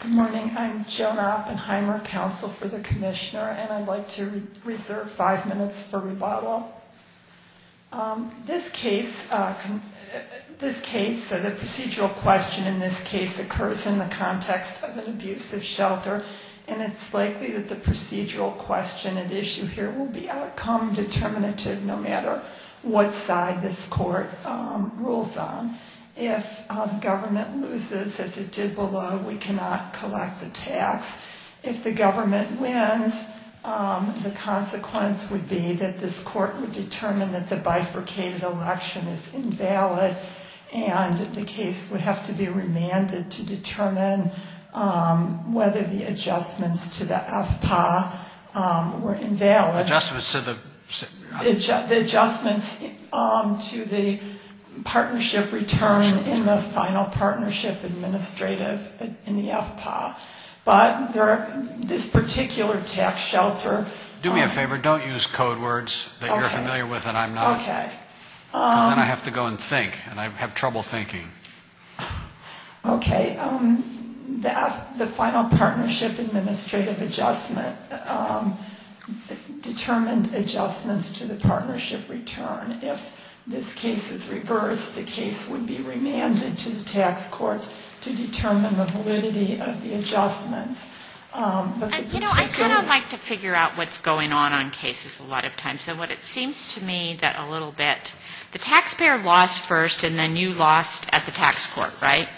Good morning. I'm Joan Oppenheimer, Counsel for the Commissioner, and I'd like to reserve five minutes for rebuttal. This case, the procedural question in this case, occurs in the context of an abusive shelter, and it's likely that the procedural question at issue here will be outcome determinative no matter what side this court rules on. If government loses, as it did below, we cannot collect the tax. If the government wins, the consequence would be that this court would determine that the bifurcated election is invalid, and the case would have to be remanded to determine whether the adjustments to the FPA were invalid. The adjustments to the partnership return in the final partnership administrative in the FPA. But this particular tax shelter... Do me a favor, don't use code words that you're familiar with and I'm not. Okay. Because then I have to go and think, and I have trouble thinking. Okay. The final partnership administrative adjustment determined adjustments to the partnership return. If this case is reversed, the case would be remanded to the tax court to determine the validity of the adjustments. But the particular... You know, I kind of like to figure out what's going on on cases a lot of times. And what it seems to me that a little bit, the taxpayer lost first and then you lost at the tax court, right?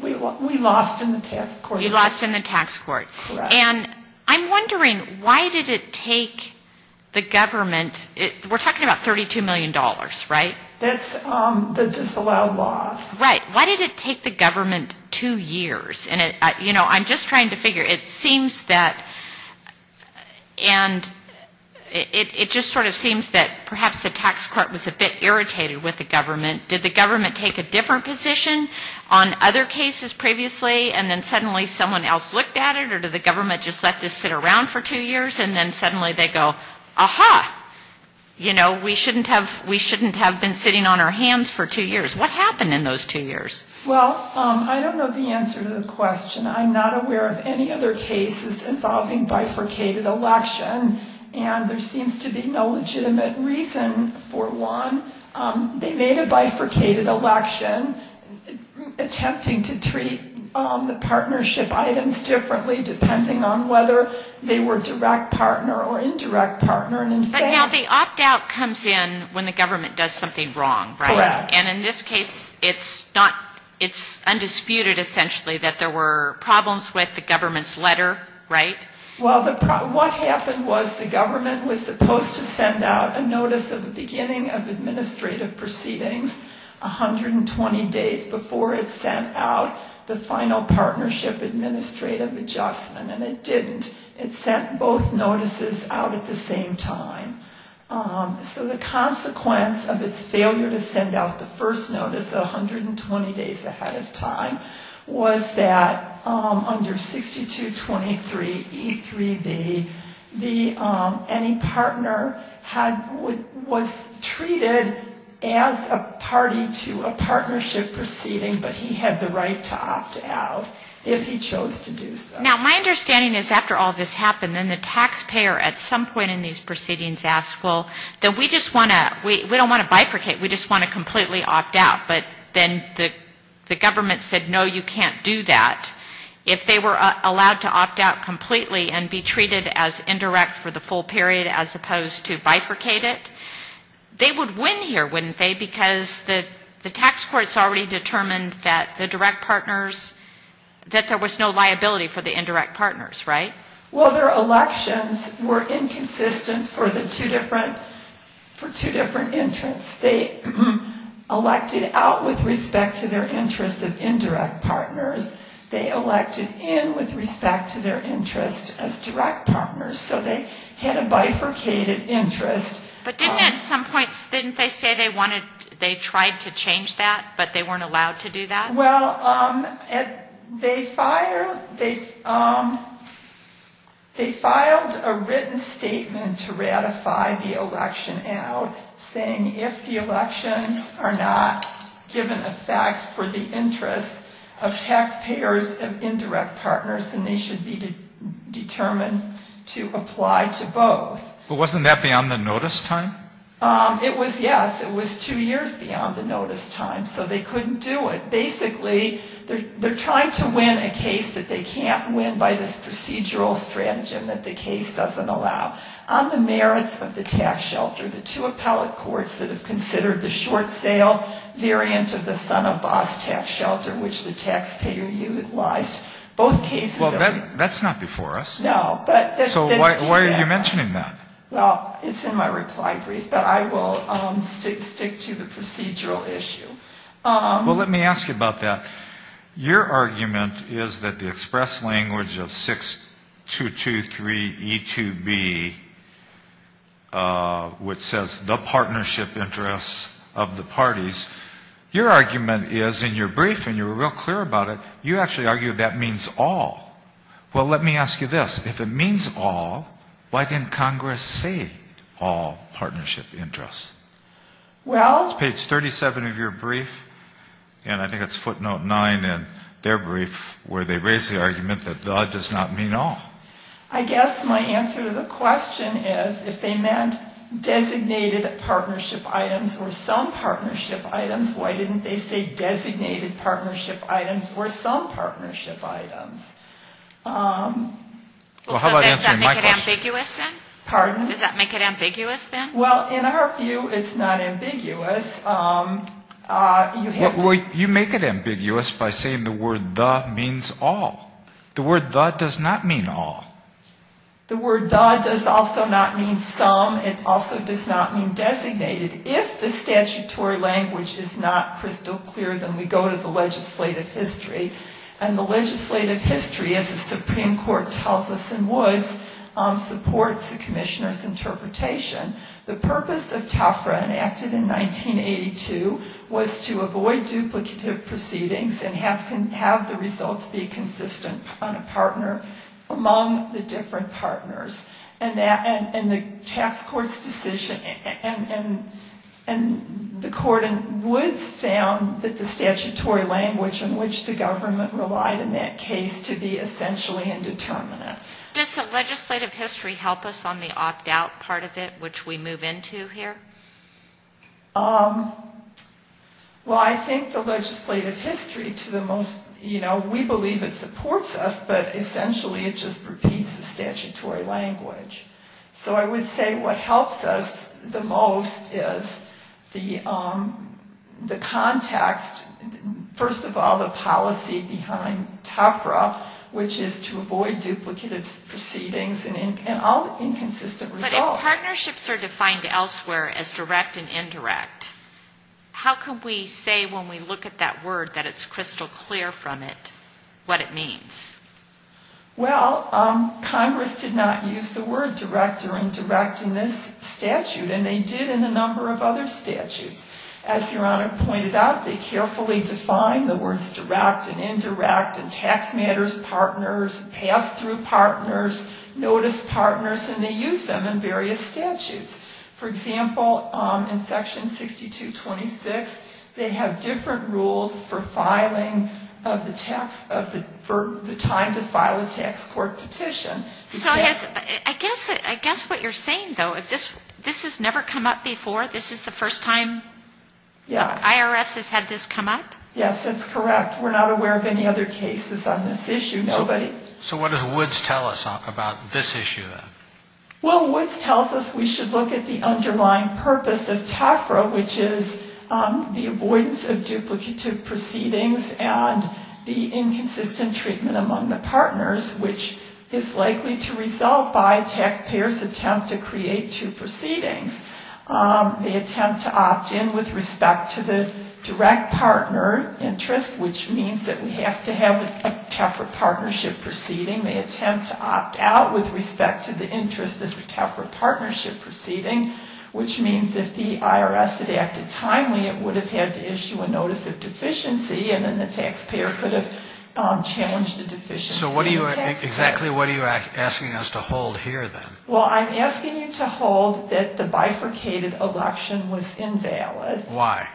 We lost in the tax court. You lost in the tax court. Correct. And I'm wondering why did it take the government, we're talking about $32 million, right? That's the disallowed loss. Right. Why did it take the government two years? You know, I'm just trying to figure. It seems that... And it just sort of seems that perhaps the tax court was a bit irritated with the government. Did the government take a different position on other cases previously and then suddenly someone else looked at it? Or did the government just let this sit around for two years and then suddenly they go, aha, you know, we shouldn't have been sitting on our hands for two years. What happened in those two years? Well, I don't know the answer to the question. I'm not aware of any other cases involving bifurcated election. And there seems to be no legitimate reason for one. They made a bifurcated election attempting to treat the partnership items differently, depending on whether they were direct partner or indirect partner. But now the opt-out comes in when the government does something wrong, right? Correct. And in this case, it's undisputed essentially that there were problems with the government's letter, right? Well, what happened was the government was supposed to send out a notice of the beginning of administrative proceedings 120 days before it sent out the final partnership administrative adjustment, and it didn't. It sent both notices out at the same time. So the consequence of its failure to send out the first notice 120 days ahead of time was that under 6223E3B, any partner was treated as a party to a partnership proceeding, but he had the right to opt out if he chose to do so. Now, my understanding is after all this happened, then the taxpayer at some point in these proceedings asked, well, then we just want to, we don't want to bifurcate, we just want to completely opt out. But then the government said, no, you can't do that. If they were allowed to opt out completely and be treated as indirect for the full period as opposed to bifurcated, they would win here, wouldn't they? Because the tax courts already determined that the direct partners, that there was no liability for the indirect partners, right? Well, their elections were inconsistent for the two different, for two different interests. They elected out with respect to their interest of indirect partners. They elected in with respect to their interest as direct partners. So they had a bifurcated interest. But didn't at some point, didn't they say they wanted, they tried to change that, but they weren't allowed to do that? Well, they filed a written statement to ratify the election out, saying if the elections are not given effect for the interest of taxpayers of indirect partners, then they should be determined to apply to both. But wasn't that beyond the notice time? It was, yes. It was two years beyond the notice time. So they couldn't do it. Basically, they're trying to win a case that they can't win by this procedural strategy that the case doesn't allow. On the merits of the tax shelter, the two appellate courts that have considered the short sale variant of the son of boss tax shelter, which the taxpayer utilized, both cases of the tax shelter. Well, that's not before us. No. So why are you mentioning that? Well, it's in my reply brief. But I will stick to the procedural issue. Well, let me ask you about that. Your argument is that the express language of 6223E2B, which says the partnership interest of the parties, your argument is in your brief, and you were real clear about it, you actually argue that means all. Well, let me ask you this. If it means all, why didn't Congress say all partnership interests? Well... It's page 37 of your brief, and I think it's footnote 9 in their brief where they raise the argument that the does not mean all. I guess my answer to the question is if they meant designated partnership items or some partnership items, why didn't they say designated partnership items or some partnership items? Well, how about answering my question? Pardon? Does that make it ambiguous, then? Well, in our view, it's not ambiguous. You make it ambiguous by saying the word the means all. The word the does not mean all. The word the does also not mean some. It also does not mean designated. If the statutory language is not crystal clear, then we go to the legislative history. And the legislative history, as the Supreme Court tells us in Woods, supports the commissioner's interpretation. The purpose of TAFRA enacted in 1982 was to avoid duplicative proceedings and have the results be consistent on a partner among the different partners. And the task court's decision, and the court in Woods found that the statutory language in which the government was supposed to interpret the document relied in that case to be essentially indeterminate. Does the legislative history help us on the opt out part of it, which we move into here? Well, I think the legislative history to the most, you know, we believe it supports us, but essentially it just repeats the statutory language. So I would say what helps us the most is the context. First of all, the policy behind TAFRA, which is to avoid duplicative proceedings and all the inconsistent results. But if partnerships are defined elsewhere as direct and indirect, how can we say when we look at that word that it's crystal clear from it what it means? Well, Congress did not use the word direct or indirect in this statute, and they did in a number of other statutes. As Your Honor pointed out, they carefully define the words direct and indirect in tax matters, partners, pass-through partners, notice partners, and they use them in various statutes. For example, in Section 6226, they have different rules for filing of the tax of the time to file a tax court petition. So I guess what you're saying, though, if this has never come up before, this is the first time Congress has used the word direct and indirect? Yes. IRS has had this come up? Yes, that's correct. We're not aware of any other cases on this issue, nobody. So what does Woods tell us about this issue, then? Well, Woods tells us we should look at the underlying purpose of TEFRA, which is the avoidance of duplicative proceedings and the inconsistent treatment among the partners, which is likely to result by taxpayers' attempt to create two proceedings. They attempt to opt in with respect to the direct partner interest, which means that we have to have a TEFRA partnership proceeding. They attempt to opt out with respect to the interest as a TEFRA partnership proceeding, which means if the IRS had acted timely, it would have had to issue a notice of deficiency, and then the taxpayer could have challenged the deficiency. So exactly what are you asking us to hold here, then? Well, I'm asking you to hold that the bifurcated election was invalid. Why?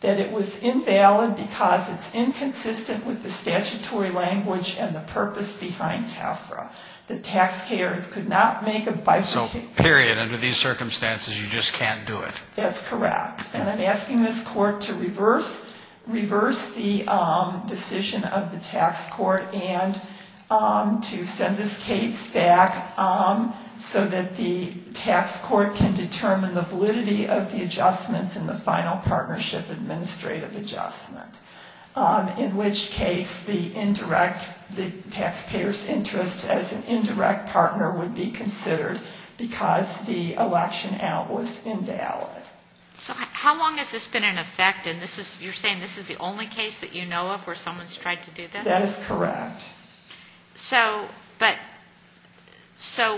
That it was invalid because it's inconsistent with the statutory language and the purpose behind TEFRA. The taxpayers could not make a bifurcated election. So period, under these circumstances you just can't do it. That's correct. And I'm asking this Court to reverse the decision of the tax court and to send this case back so that the tax court can make a partnership administrative adjustment, in which case the indirect, the taxpayer's interest as an indirect partner would be considered because the election out was invalid. So how long has this been in effect? And you're saying this is the only case that you know of where someone's tried to do this? That is correct. So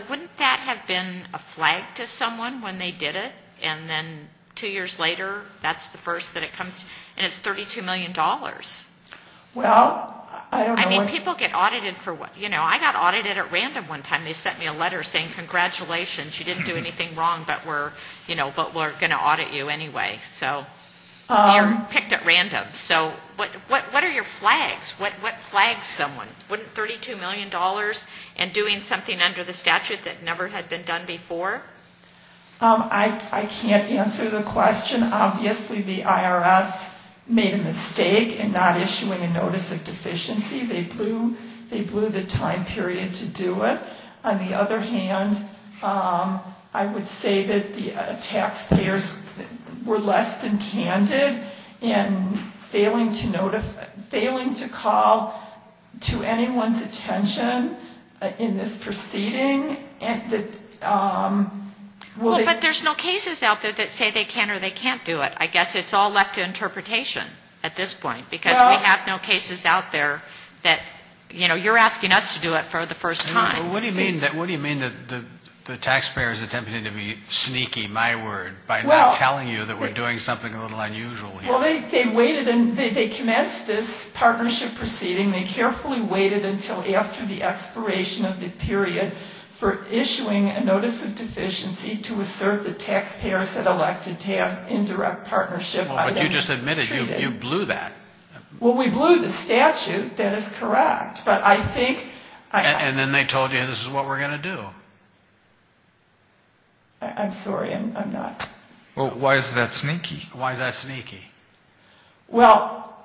wouldn't that have been a flag to someone when they did it, and then two years later, that's the first thing they did? I mean, people get audited for, you know, I got audited at random one time. They sent me a letter saying congratulations, you didn't do anything wrong, but we're going to audit you anyway. So you're picked at random. So what are your flags? What flags someone? Wouldn't $32 million and doing something under the statute that never had been done before? I can't answer the question. Obviously the IRS made a mistake in not issuing a notice of deficiency. They blew the time period to do it. On the other hand, I would say that the taxpayers were less than candid in failing to call to anyone's attention in this proceeding. Well, but there's no cases out there that say they can or they can't do it. I guess it's all left to interpretation at this point. Because we have no cases out there that, you know, you're asking us to do it for the first time. What do you mean that the taxpayers attempted to be sneaky, my word, by not telling you that we're doing something a little unusual here? Well, they waited and they commenced this partnership proceeding. They carefully waited until after the expiration of the period for issuing a notice of deficiency to assert the taxpayers had elected to have indirect partnership. But you just admitted you blew that. Well, we blew the statute. That is correct. And then they told you this is what we're going to do. I'm sorry, I'm not. Well, why is that sneaky? Well,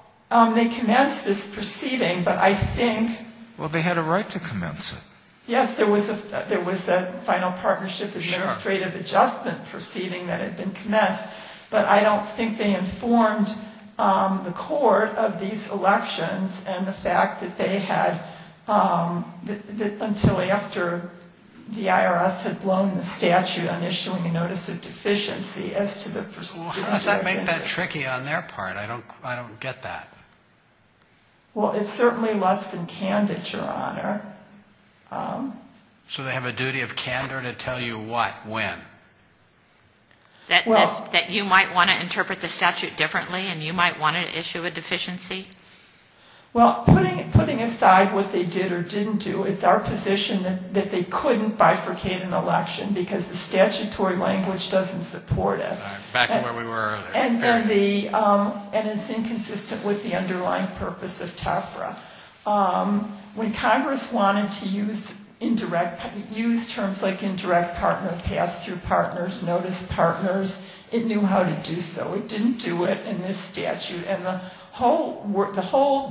they commenced this proceeding, but I think... Well, they had a right to commence it. Yes, there was a final partnership administrative adjustment proceeding that had been commenced. But I don't think they informed the court of these elections and the fact that they had... Until after the IRS had blown the statute on issuing a notice of deficiency as to the... Well, how does that make that tricky on their part? I don't get that. Well, it's certainly less than candid, Your Honor. So they have a duty of candor to tell you what, when? That you might want to interpret the statute differently and you might want to issue a deficiency? Well, putting aside what they did or didn't do, it's our position that they couldn't bifurcate an election because the statutory language doesn't support it. Back to where we were earlier. And it's inconsistent with the underlying purpose of TEFRA. When Congress wanted to use terms like indirect partner, pass-through partners, notice partners, it knew how to do so. It didn't do it in this statute. And the whole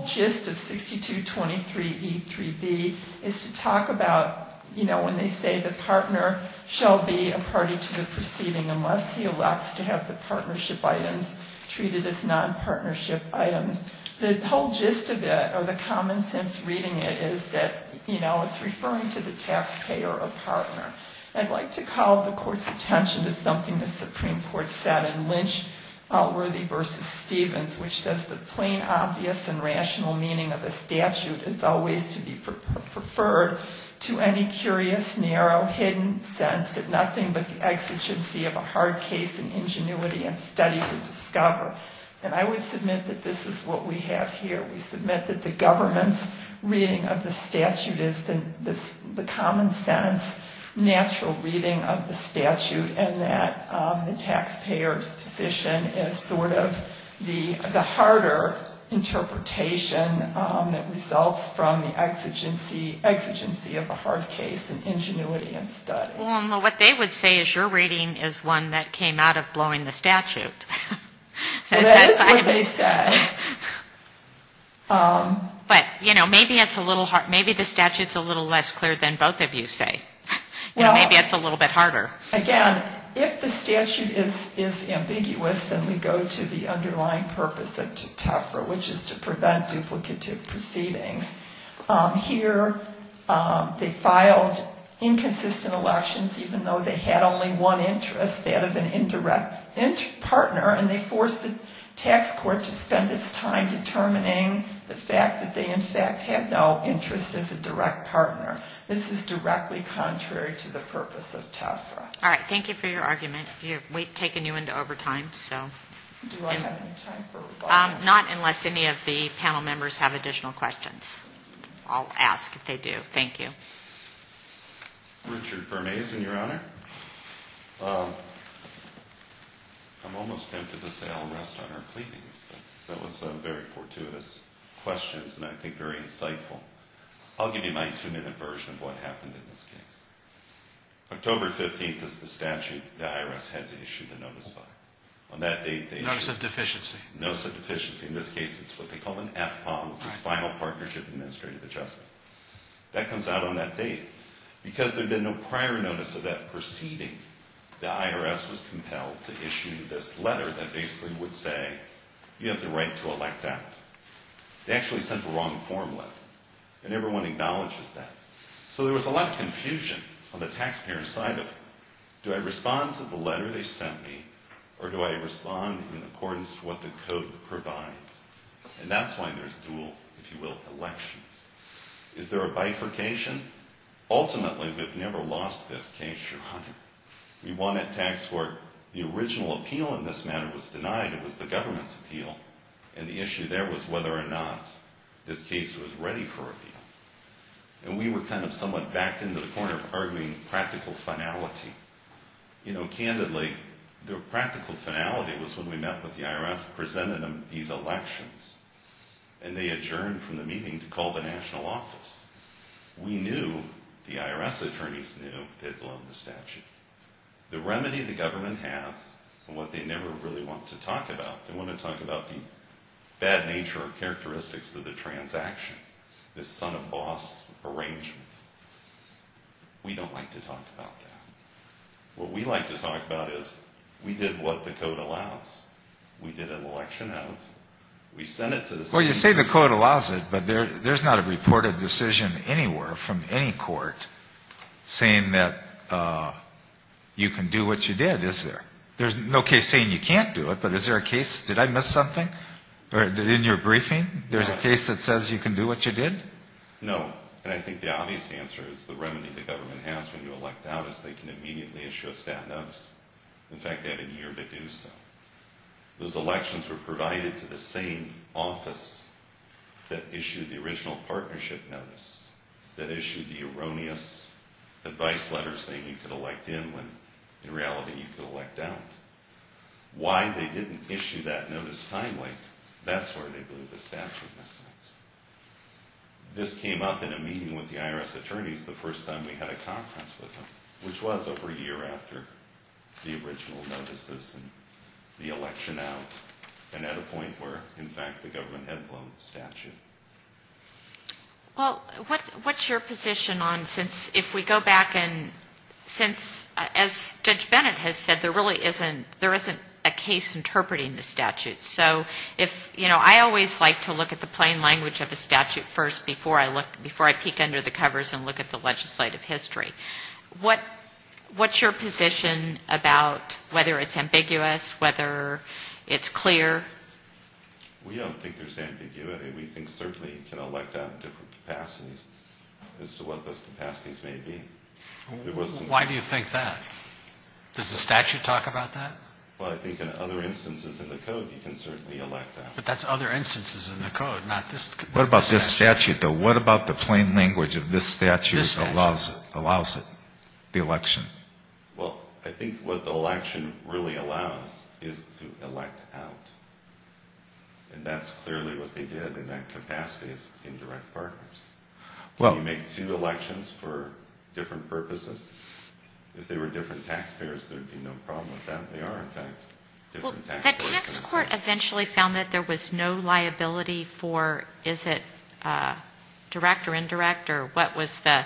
gist of 6223E3B is to talk about, you know, when they say the partner shall be a party to the proceeding unless he elects to have the partnership item. And when they say it's a partnership item, it's a nonpartnership item. The whole gist of it, or the common sense reading it, is that, you know, it's referring to the taxpayer or partner. I'd like to call the Court's attention to something the Supreme Court said in Lynch-Outworthy v. Stevens, which says that plain, obvious, and rational meaning of a statute is always to be preferred to any curious, narrow, hidden sense that nothing but the exigency of a hard case in ingenuity and study would suffice. And I would submit that this is what we have here. We submit that the government's reading of the statute is the common sense, natural reading of the statute, and that the taxpayer's position is sort of the harder interpretation that results from the exigency of a hard case in ingenuity and study. Well, what they would say is your reading is one that came out of blowing the statute. Well, that is what they said. But, you know, maybe it's a little hard. Maybe the statute's a little less clear than both of you say. Maybe it's a little bit harder. Again, if the statute is ambiguous, then we go to the underlying purpose of TEFRA, which is to prevent duplicative proceedings. Here they filed inconsistent elections, even though they had only one interest, that of an indirect partner, and they forced the tax court to spend its time determining the fact that they, in fact, had no interest as a direct partner. This is directly contrary to the purpose of TEFRA. All right. Thank you for your argument. We've taken you into overtime. Do I have any time for rebuttal? Not unless any of the panel members have additional questions. I'll ask if they do. Thank you. Richard Firmason, Your Honor. I'm almost tempted to say I'll rest on our pleadings, but that was a very fortuitous question, and I think very insightful. I'll give you my two-minute version of what happened in this case. October 15th is the statute the IRS had to issue the notice by. Notice of deficiency. Notice of deficiency. In this case, it's what they call an FPOM, which is Final Partnership Administrative Adjustment. That comes out on that date because there had been no prior notice of that proceeding. The IRS was compelled to issue this letter that basically would say you have the right to elect out. They actually sent the wrong form letter, and everyone acknowledges that. So there was a lot of confusion on the taxpayer side of it. Do I respond to the letter they sent me, or do I respond in accordance to what the code provides? And that's why there's dual, if you will, elections. Is there a bifurcation? Ultimately, we've never lost this case, Your Honor. We won at tax court. The original appeal in this matter was denied. It was the government's appeal, and the issue there was whether or not this case was ready for appeal. And we were kind of somewhat backed into the corner arguing practical finality. Candidly, the practical finality was when we met with the IRS, presented them these elections, and they adjourned from the meeting to call the national office. We knew, the IRS attorneys knew, they'd blown the statute. The remedy the government has, and what they never really want to talk about, they want to talk about the bad nature or characteristics of the transaction, this son-of-boss arrangement. We don't like to talk about that. What we like to talk about is we did what the code allows. We did an election out. We sent it to the state. Well, you say the code allows it, but there's not a reported decision anywhere from any court saying that you can do what you did, is there? There's no case saying you can't do it, but is there a case, did I miss something? In your briefing, there's a case that says you can do what you did? No, and I think the obvious answer is the remedy the government has when you elect out is they can immediately issue a stat notice. In fact, they have a year to do so. Those elections were provided to the same office that issued the original partnership notice that issued the erroneous advice letter saying you could elect in when in reality you could elect out. Why they didn't issue that notice timely, that's where they blew the statute mistakes. This came up in a meeting with the IRS attorneys the first time we had a conference with them, which was over a year after the original notices and the election out, and at a point where, in fact, the government had blown the statute. Well, what's your position on since if we go back and since, as Judge Bennett has said, there really isn't, there isn't a case interpreting the statute. So if, you know, I always like to look at the plain language of the statute first before I look, before I peek under the covers and look at the legislative history. What's your position about whether it's ambiguous, whether it's clear? We don't think there's ambiguity. We think certainly you can elect out in different capacities as to what those capacities may be. Why do you think that? Does the statute talk about that? Well, I think in other instances in the code you can certainly elect out. But that's other instances in the code, not this statute. What about this statute though? What about the plain language of this statute allows it, the election? Well, I think what the election really allows is to elect out. And that's clearly what they did in that capacity is indirect partners. Can you make two elections for different purposes? If they were different taxpayers, there would be no problem with that. They are, in fact, different taxpayers. The tax court eventually found that there was no liability for is it direct or indirect or what was the,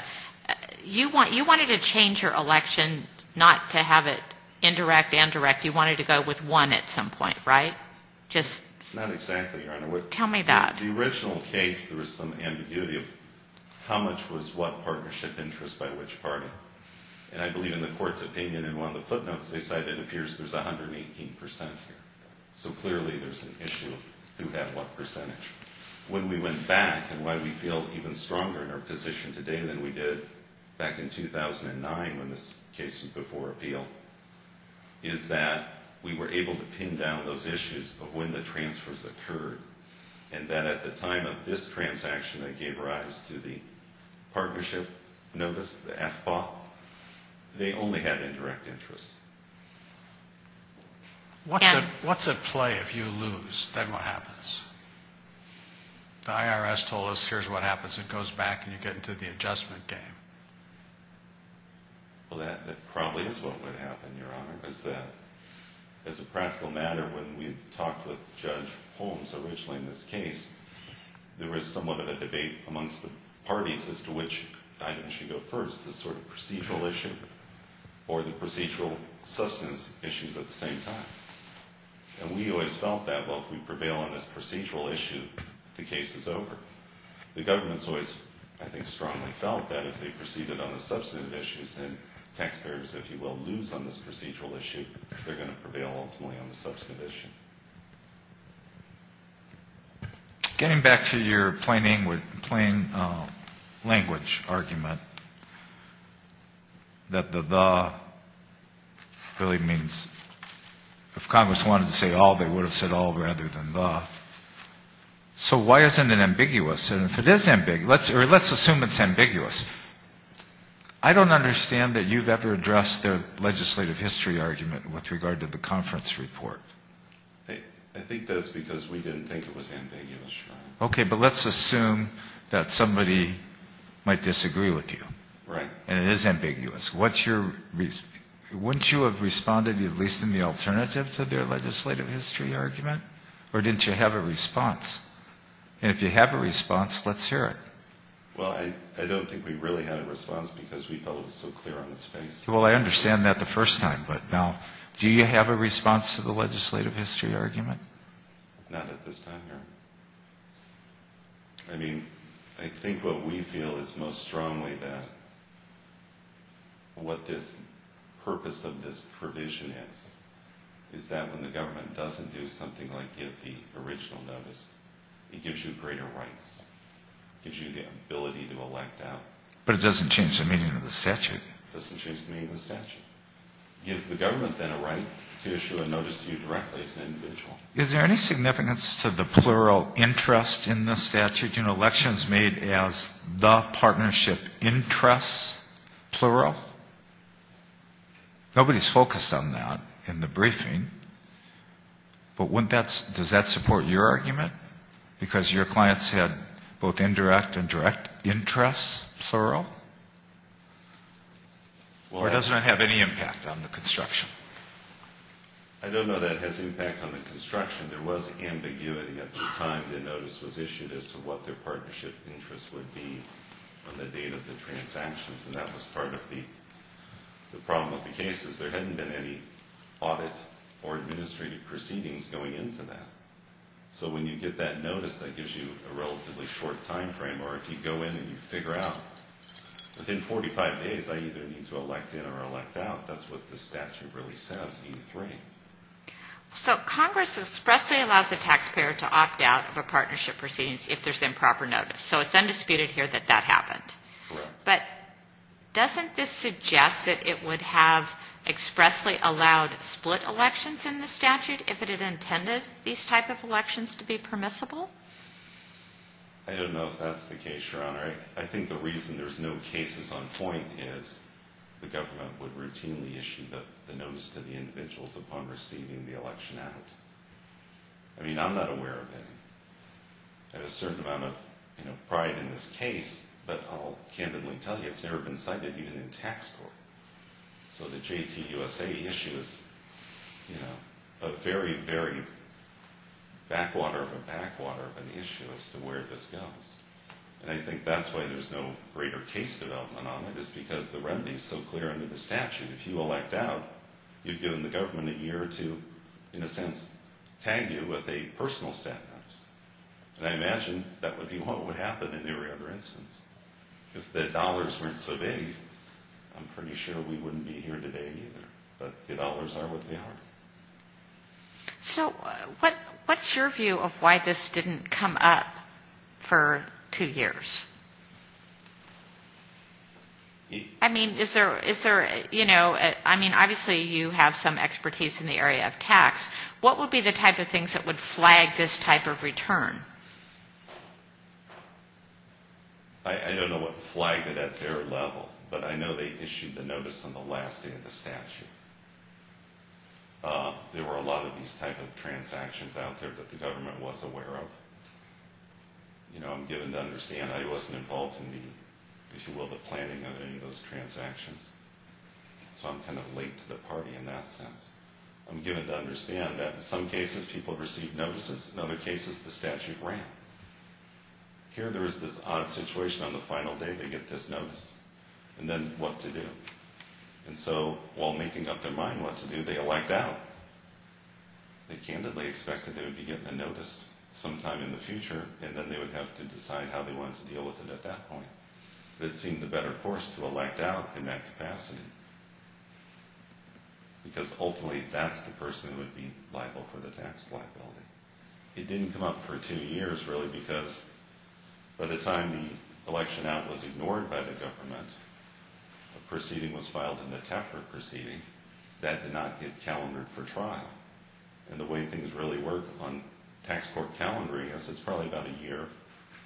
you wanted to change your election not to have it indirect and direct. You wanted to go with one at some point, right? Not exactly, Your Honor. Tell me that. The original case there was some ambiguity of how much was what partnership interest by which party. And I believe in the court's opinion in one of the footnotes they said it appears there's 118% here. So clearly there's an issue of who had what percentage. When we went back and why we feel even stronger in our position today than we did back in 2009 when this case was before appeal is that we were able to pin down those issues of when the transfers occurred and that at the time of this transaction that gave rise to the partnership notice, the FBOP, they only had indirect interest. What's at play if you lose? Then what happens? The IRS told us here's what happens. It goes back and you get into the adjustment game. Well, that probably is what would happen, Your Honor, is that as a practical matter when we talked with Judge Holmes originally in this case, there was somewhat of a debate amongst the parties as to which item should go first, this sort of procedural issue or the procedural substance issues at the same time. And we always felt that, well, if we prevail on this procedural issue, the case is over. The government's always, I think, strongly felt that if they proceeded on the substantive issues and taxpayers, if you will, lose on this procedural issue, they're going to prevail ultimately on the substantive issue. Getting back to your plain language argument that the the really means if Congress wanted to say all, they would have said all rather than the. So why isn't it ambiguous? And if it is ambiguous, let's assume it's ambiguous. I don't understand that you've ever addressed the legislative history argument with regard to the conference report. I think that's because we didn't think it was ambiguous, Your Honor. Okay, but let's assume that somebody might disagree with you. Right. And it is ambiguous. Wouldn't you have responded at least in the alternative to their legislative history argument? Or didn't you have a response? And if you have a response, let's hear it. Well, I don't think we really had a response because we felt it was so clear on its face. Well, I understand that the first time. But now, do you have a response to the legislative history argument? Not at this time, Your Honor. I mean, I think what we feel is most strongly that what this purpose of this provision is, is that when the government doesn't do something like give the original notice, it gives you greater rights. It gives you the ability to elect out. But it doesn't change the meaning of the statute. It doesn't change the meaning of the statute. It gives the government then a right to issue a notice to you directly as an individual. Is there any significance to the plural interest in this statute? You know, elections made as the partnership interests, plural? Nobody's focused on that in the briefing. But does that support your argument? Because your clients had both indirect and direct interests, plural? Or does that have any impact on the construction? I don't know that it has impact on the construction. There was ambiguity at the time the notice was issued as to what their partnership interests would be on the date of the transactions. And that was part of the problem with the cases. There hadn't been any audit or administrative proceedings going into that. So when you get that notice, that gives you a relatively short time frame. Or if you go in and you figure out within 45 days I either need to elect in or elect out, that's what the statute really says, E3. So Congress expressly allows the taxpayer to opt out of a partnership proceedings if there's improper notice. So it's undisputed here that that happened. Correct. But doesn't this suggest that it would have expressly allowed split elections in the statute if it had intended these type of elections to be permissible? I don't know if that's the case, Your Honor. I think the reason there's no cases on point is the government would routinely issue the notice to the individuals upon receiving the election out. I mean, I'm not aware of any. I have a certain amount of pride in this case, but I'll candidly tell you it's never been cited even in tax court. So the JTUSA issue is a very, very backwater of a backwater of an issue as to where this goes. And I think that's why there's no greater case development on it, is because the remedy is so clear under the statute. If you elect out, you've given the government a year or two, in a sense, to tag you with a personal stat notice. And I imagine that would be what would happen in every other instance. If the dollars weren't so big, I'm pretty sure we wouldn't be here today either. But the dollars are what they are. So what's your view of why this didn't come up for two years? I mean, is there, you know, I mean, obviously you have some expertise in the area of tax. What would be the type of things that would flag this type of return? I don't know what flagged it at their level, but I know they issued the notice on the last day of the statute. There were a lot of these type of transactions out there that the government was aware of. You know, I'm given to understand I wasn't involved in the, if you will, the planning of any of those transactions. So I'm kind of late to the party in that sense. I'm given to understand that in some cases people received notices, in other cases the statute ran. Here there is this odd situation on the final day they get this notice. And then what to do? And so while making up their mind what to do, they elect out. They candidly expected they would be getting a notice sometime in the future, and then they would have to decide how they wanted to deal with it at that point. But it seemed the better course to elect out in that capacity. Because ultimately that's the person who would be liable for the tax liability. It didn't come up for two years, really, because by the time the election out was ignored by the government, a proceeding was filed in the Tefra proceeding that did not get calendared for trial. And the way things really work on tax court calendaring is it's probably about a year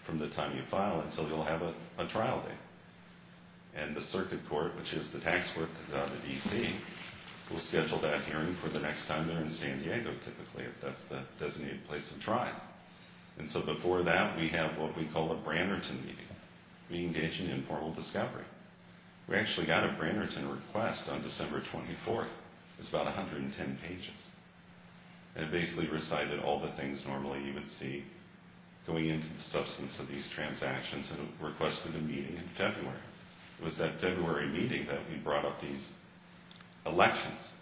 from the time you file until you'll have a trial date. And the circuit court, which is the tax court that's out of D.C., will schedule that hearing for the next time they're in San Diego, typically, if that's the designated place of trial. And so before that we have what we call a Brannerton meeting. We engage in informal discovery. We actually got a Brannerton request on December 24th. It's about 110 pages. And it basically recited all the things normally you would see going into the substance of these transactions and requested a meeting in February. It was that February meeting that we brought up these elections.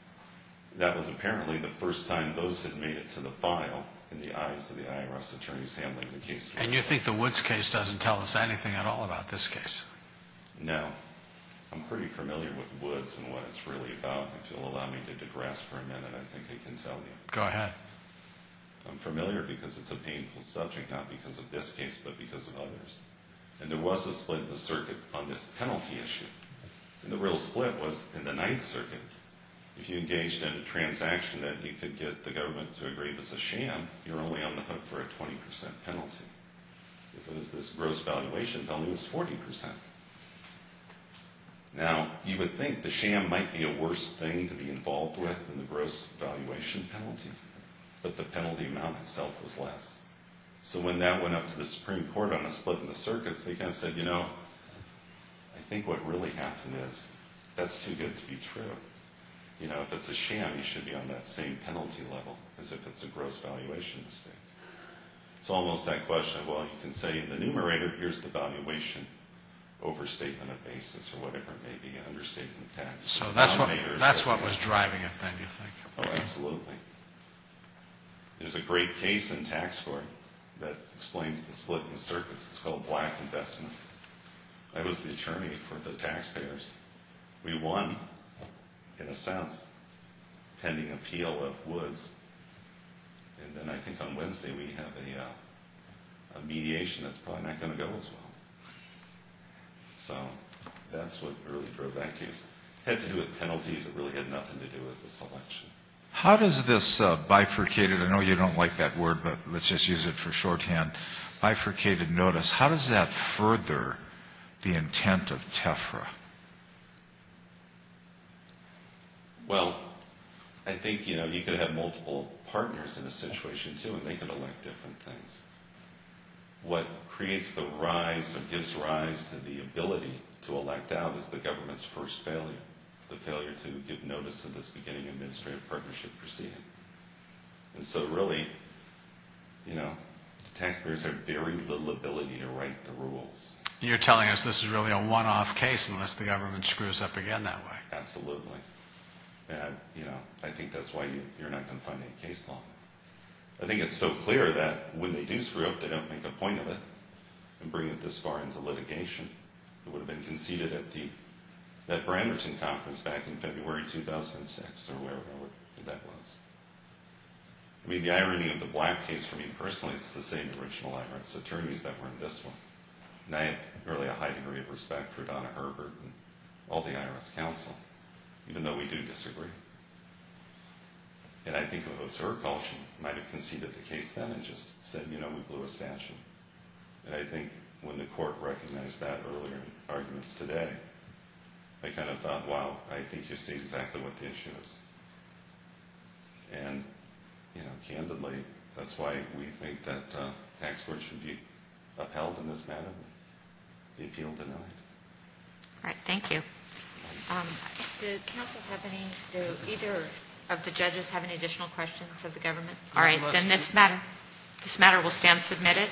That was apparently the first time those had made it to the file in the eyes of the IRS attorneys handling the case. And you think the Woods case doesn't tell us anything at all about this case? No. I'm pretty familiar with Woods and what it's really about. If you'll allow me to digress for a minute, I think I can tell you. Go ahead. I'm familiar because it's a painful subject, not because of this case but because of others. And there was a split in the circuit on this penalty issue. And the real split was in the Ninth Circuit. If you engaged in a transaction that you could get the government to agree was a sham, you're only on the hook for a 20% penalty. If it was this gross valuation penalty, it was 40%. Now, you would think the sham might be a worse thing to be involved with than the gross valuation penalty, but the penalty amount itself was less. So when that went up to the Supreme Court on a split in the circuits, they kind of said, you know, I think what really happened is that's too good to be true. You know, if it's a sham, you should be on that same penalty level as if it's a gross valuation mistake. It's almost that question of, well, you can say in the numerator, here's the valuation overstatement of basis or whatever it may be, understatement of tax. So that's what was driving it then, you think? Oh, absolutely. There's a great case in tax court that explains the split in the circuits. It's called Black Investments. I was the attorney for the taxpayers. We won, in a sense, pending appeal of Woods. And then I think on Wednesday we have a mediation that's probably not going to go as well. So that's what really drove that case. It had to do with penalties. It really had nothing to do with this election. How does this bifurcated, I know you don't like that word, but let's just use it for shorthand, bifurcated notice, how does that further the intent of TEFRA? Well, I think, you know, you could have multiple partners in a situation, too, and they could elect different things. What creates the rise or gives rise to the ability to elect out is the government's first failure, the failure to give notice of this beginning administrative partnership proceeding. And so really, you know, the taxpayers have very little ability to write the rules. You're telling us this is really a one-off case unless the government screws up again that way. Absolutely. I think that's why you're not going to find any case law. I think it's so clear that when they do screw up, they don't make a point of it and bring it this far into litigation. It would have been conceded at that Branderton conference back in February 2006 or wherever that was. I mean, the irony of the Black case for me personally, it's the same original IRS attorneys that were in this one. And I have really a high degree of respect for Donna Herbert and all the IRS counsel, even though we do disagree. And I think it was her call. She might have conceded the case then and just said, you know, we blew a satchel. And I think when the court recognized that earlier in arguments today, they kind of thought, wow, I think you see exactly what the issue is. And, you know, candidly, that's why we think that the tax court should be upheld in this matter, the appeal denied. All right, thank you. If the counsel have any, do either of the judges have any additional questions of the government? All right, then this matter will stand submitted.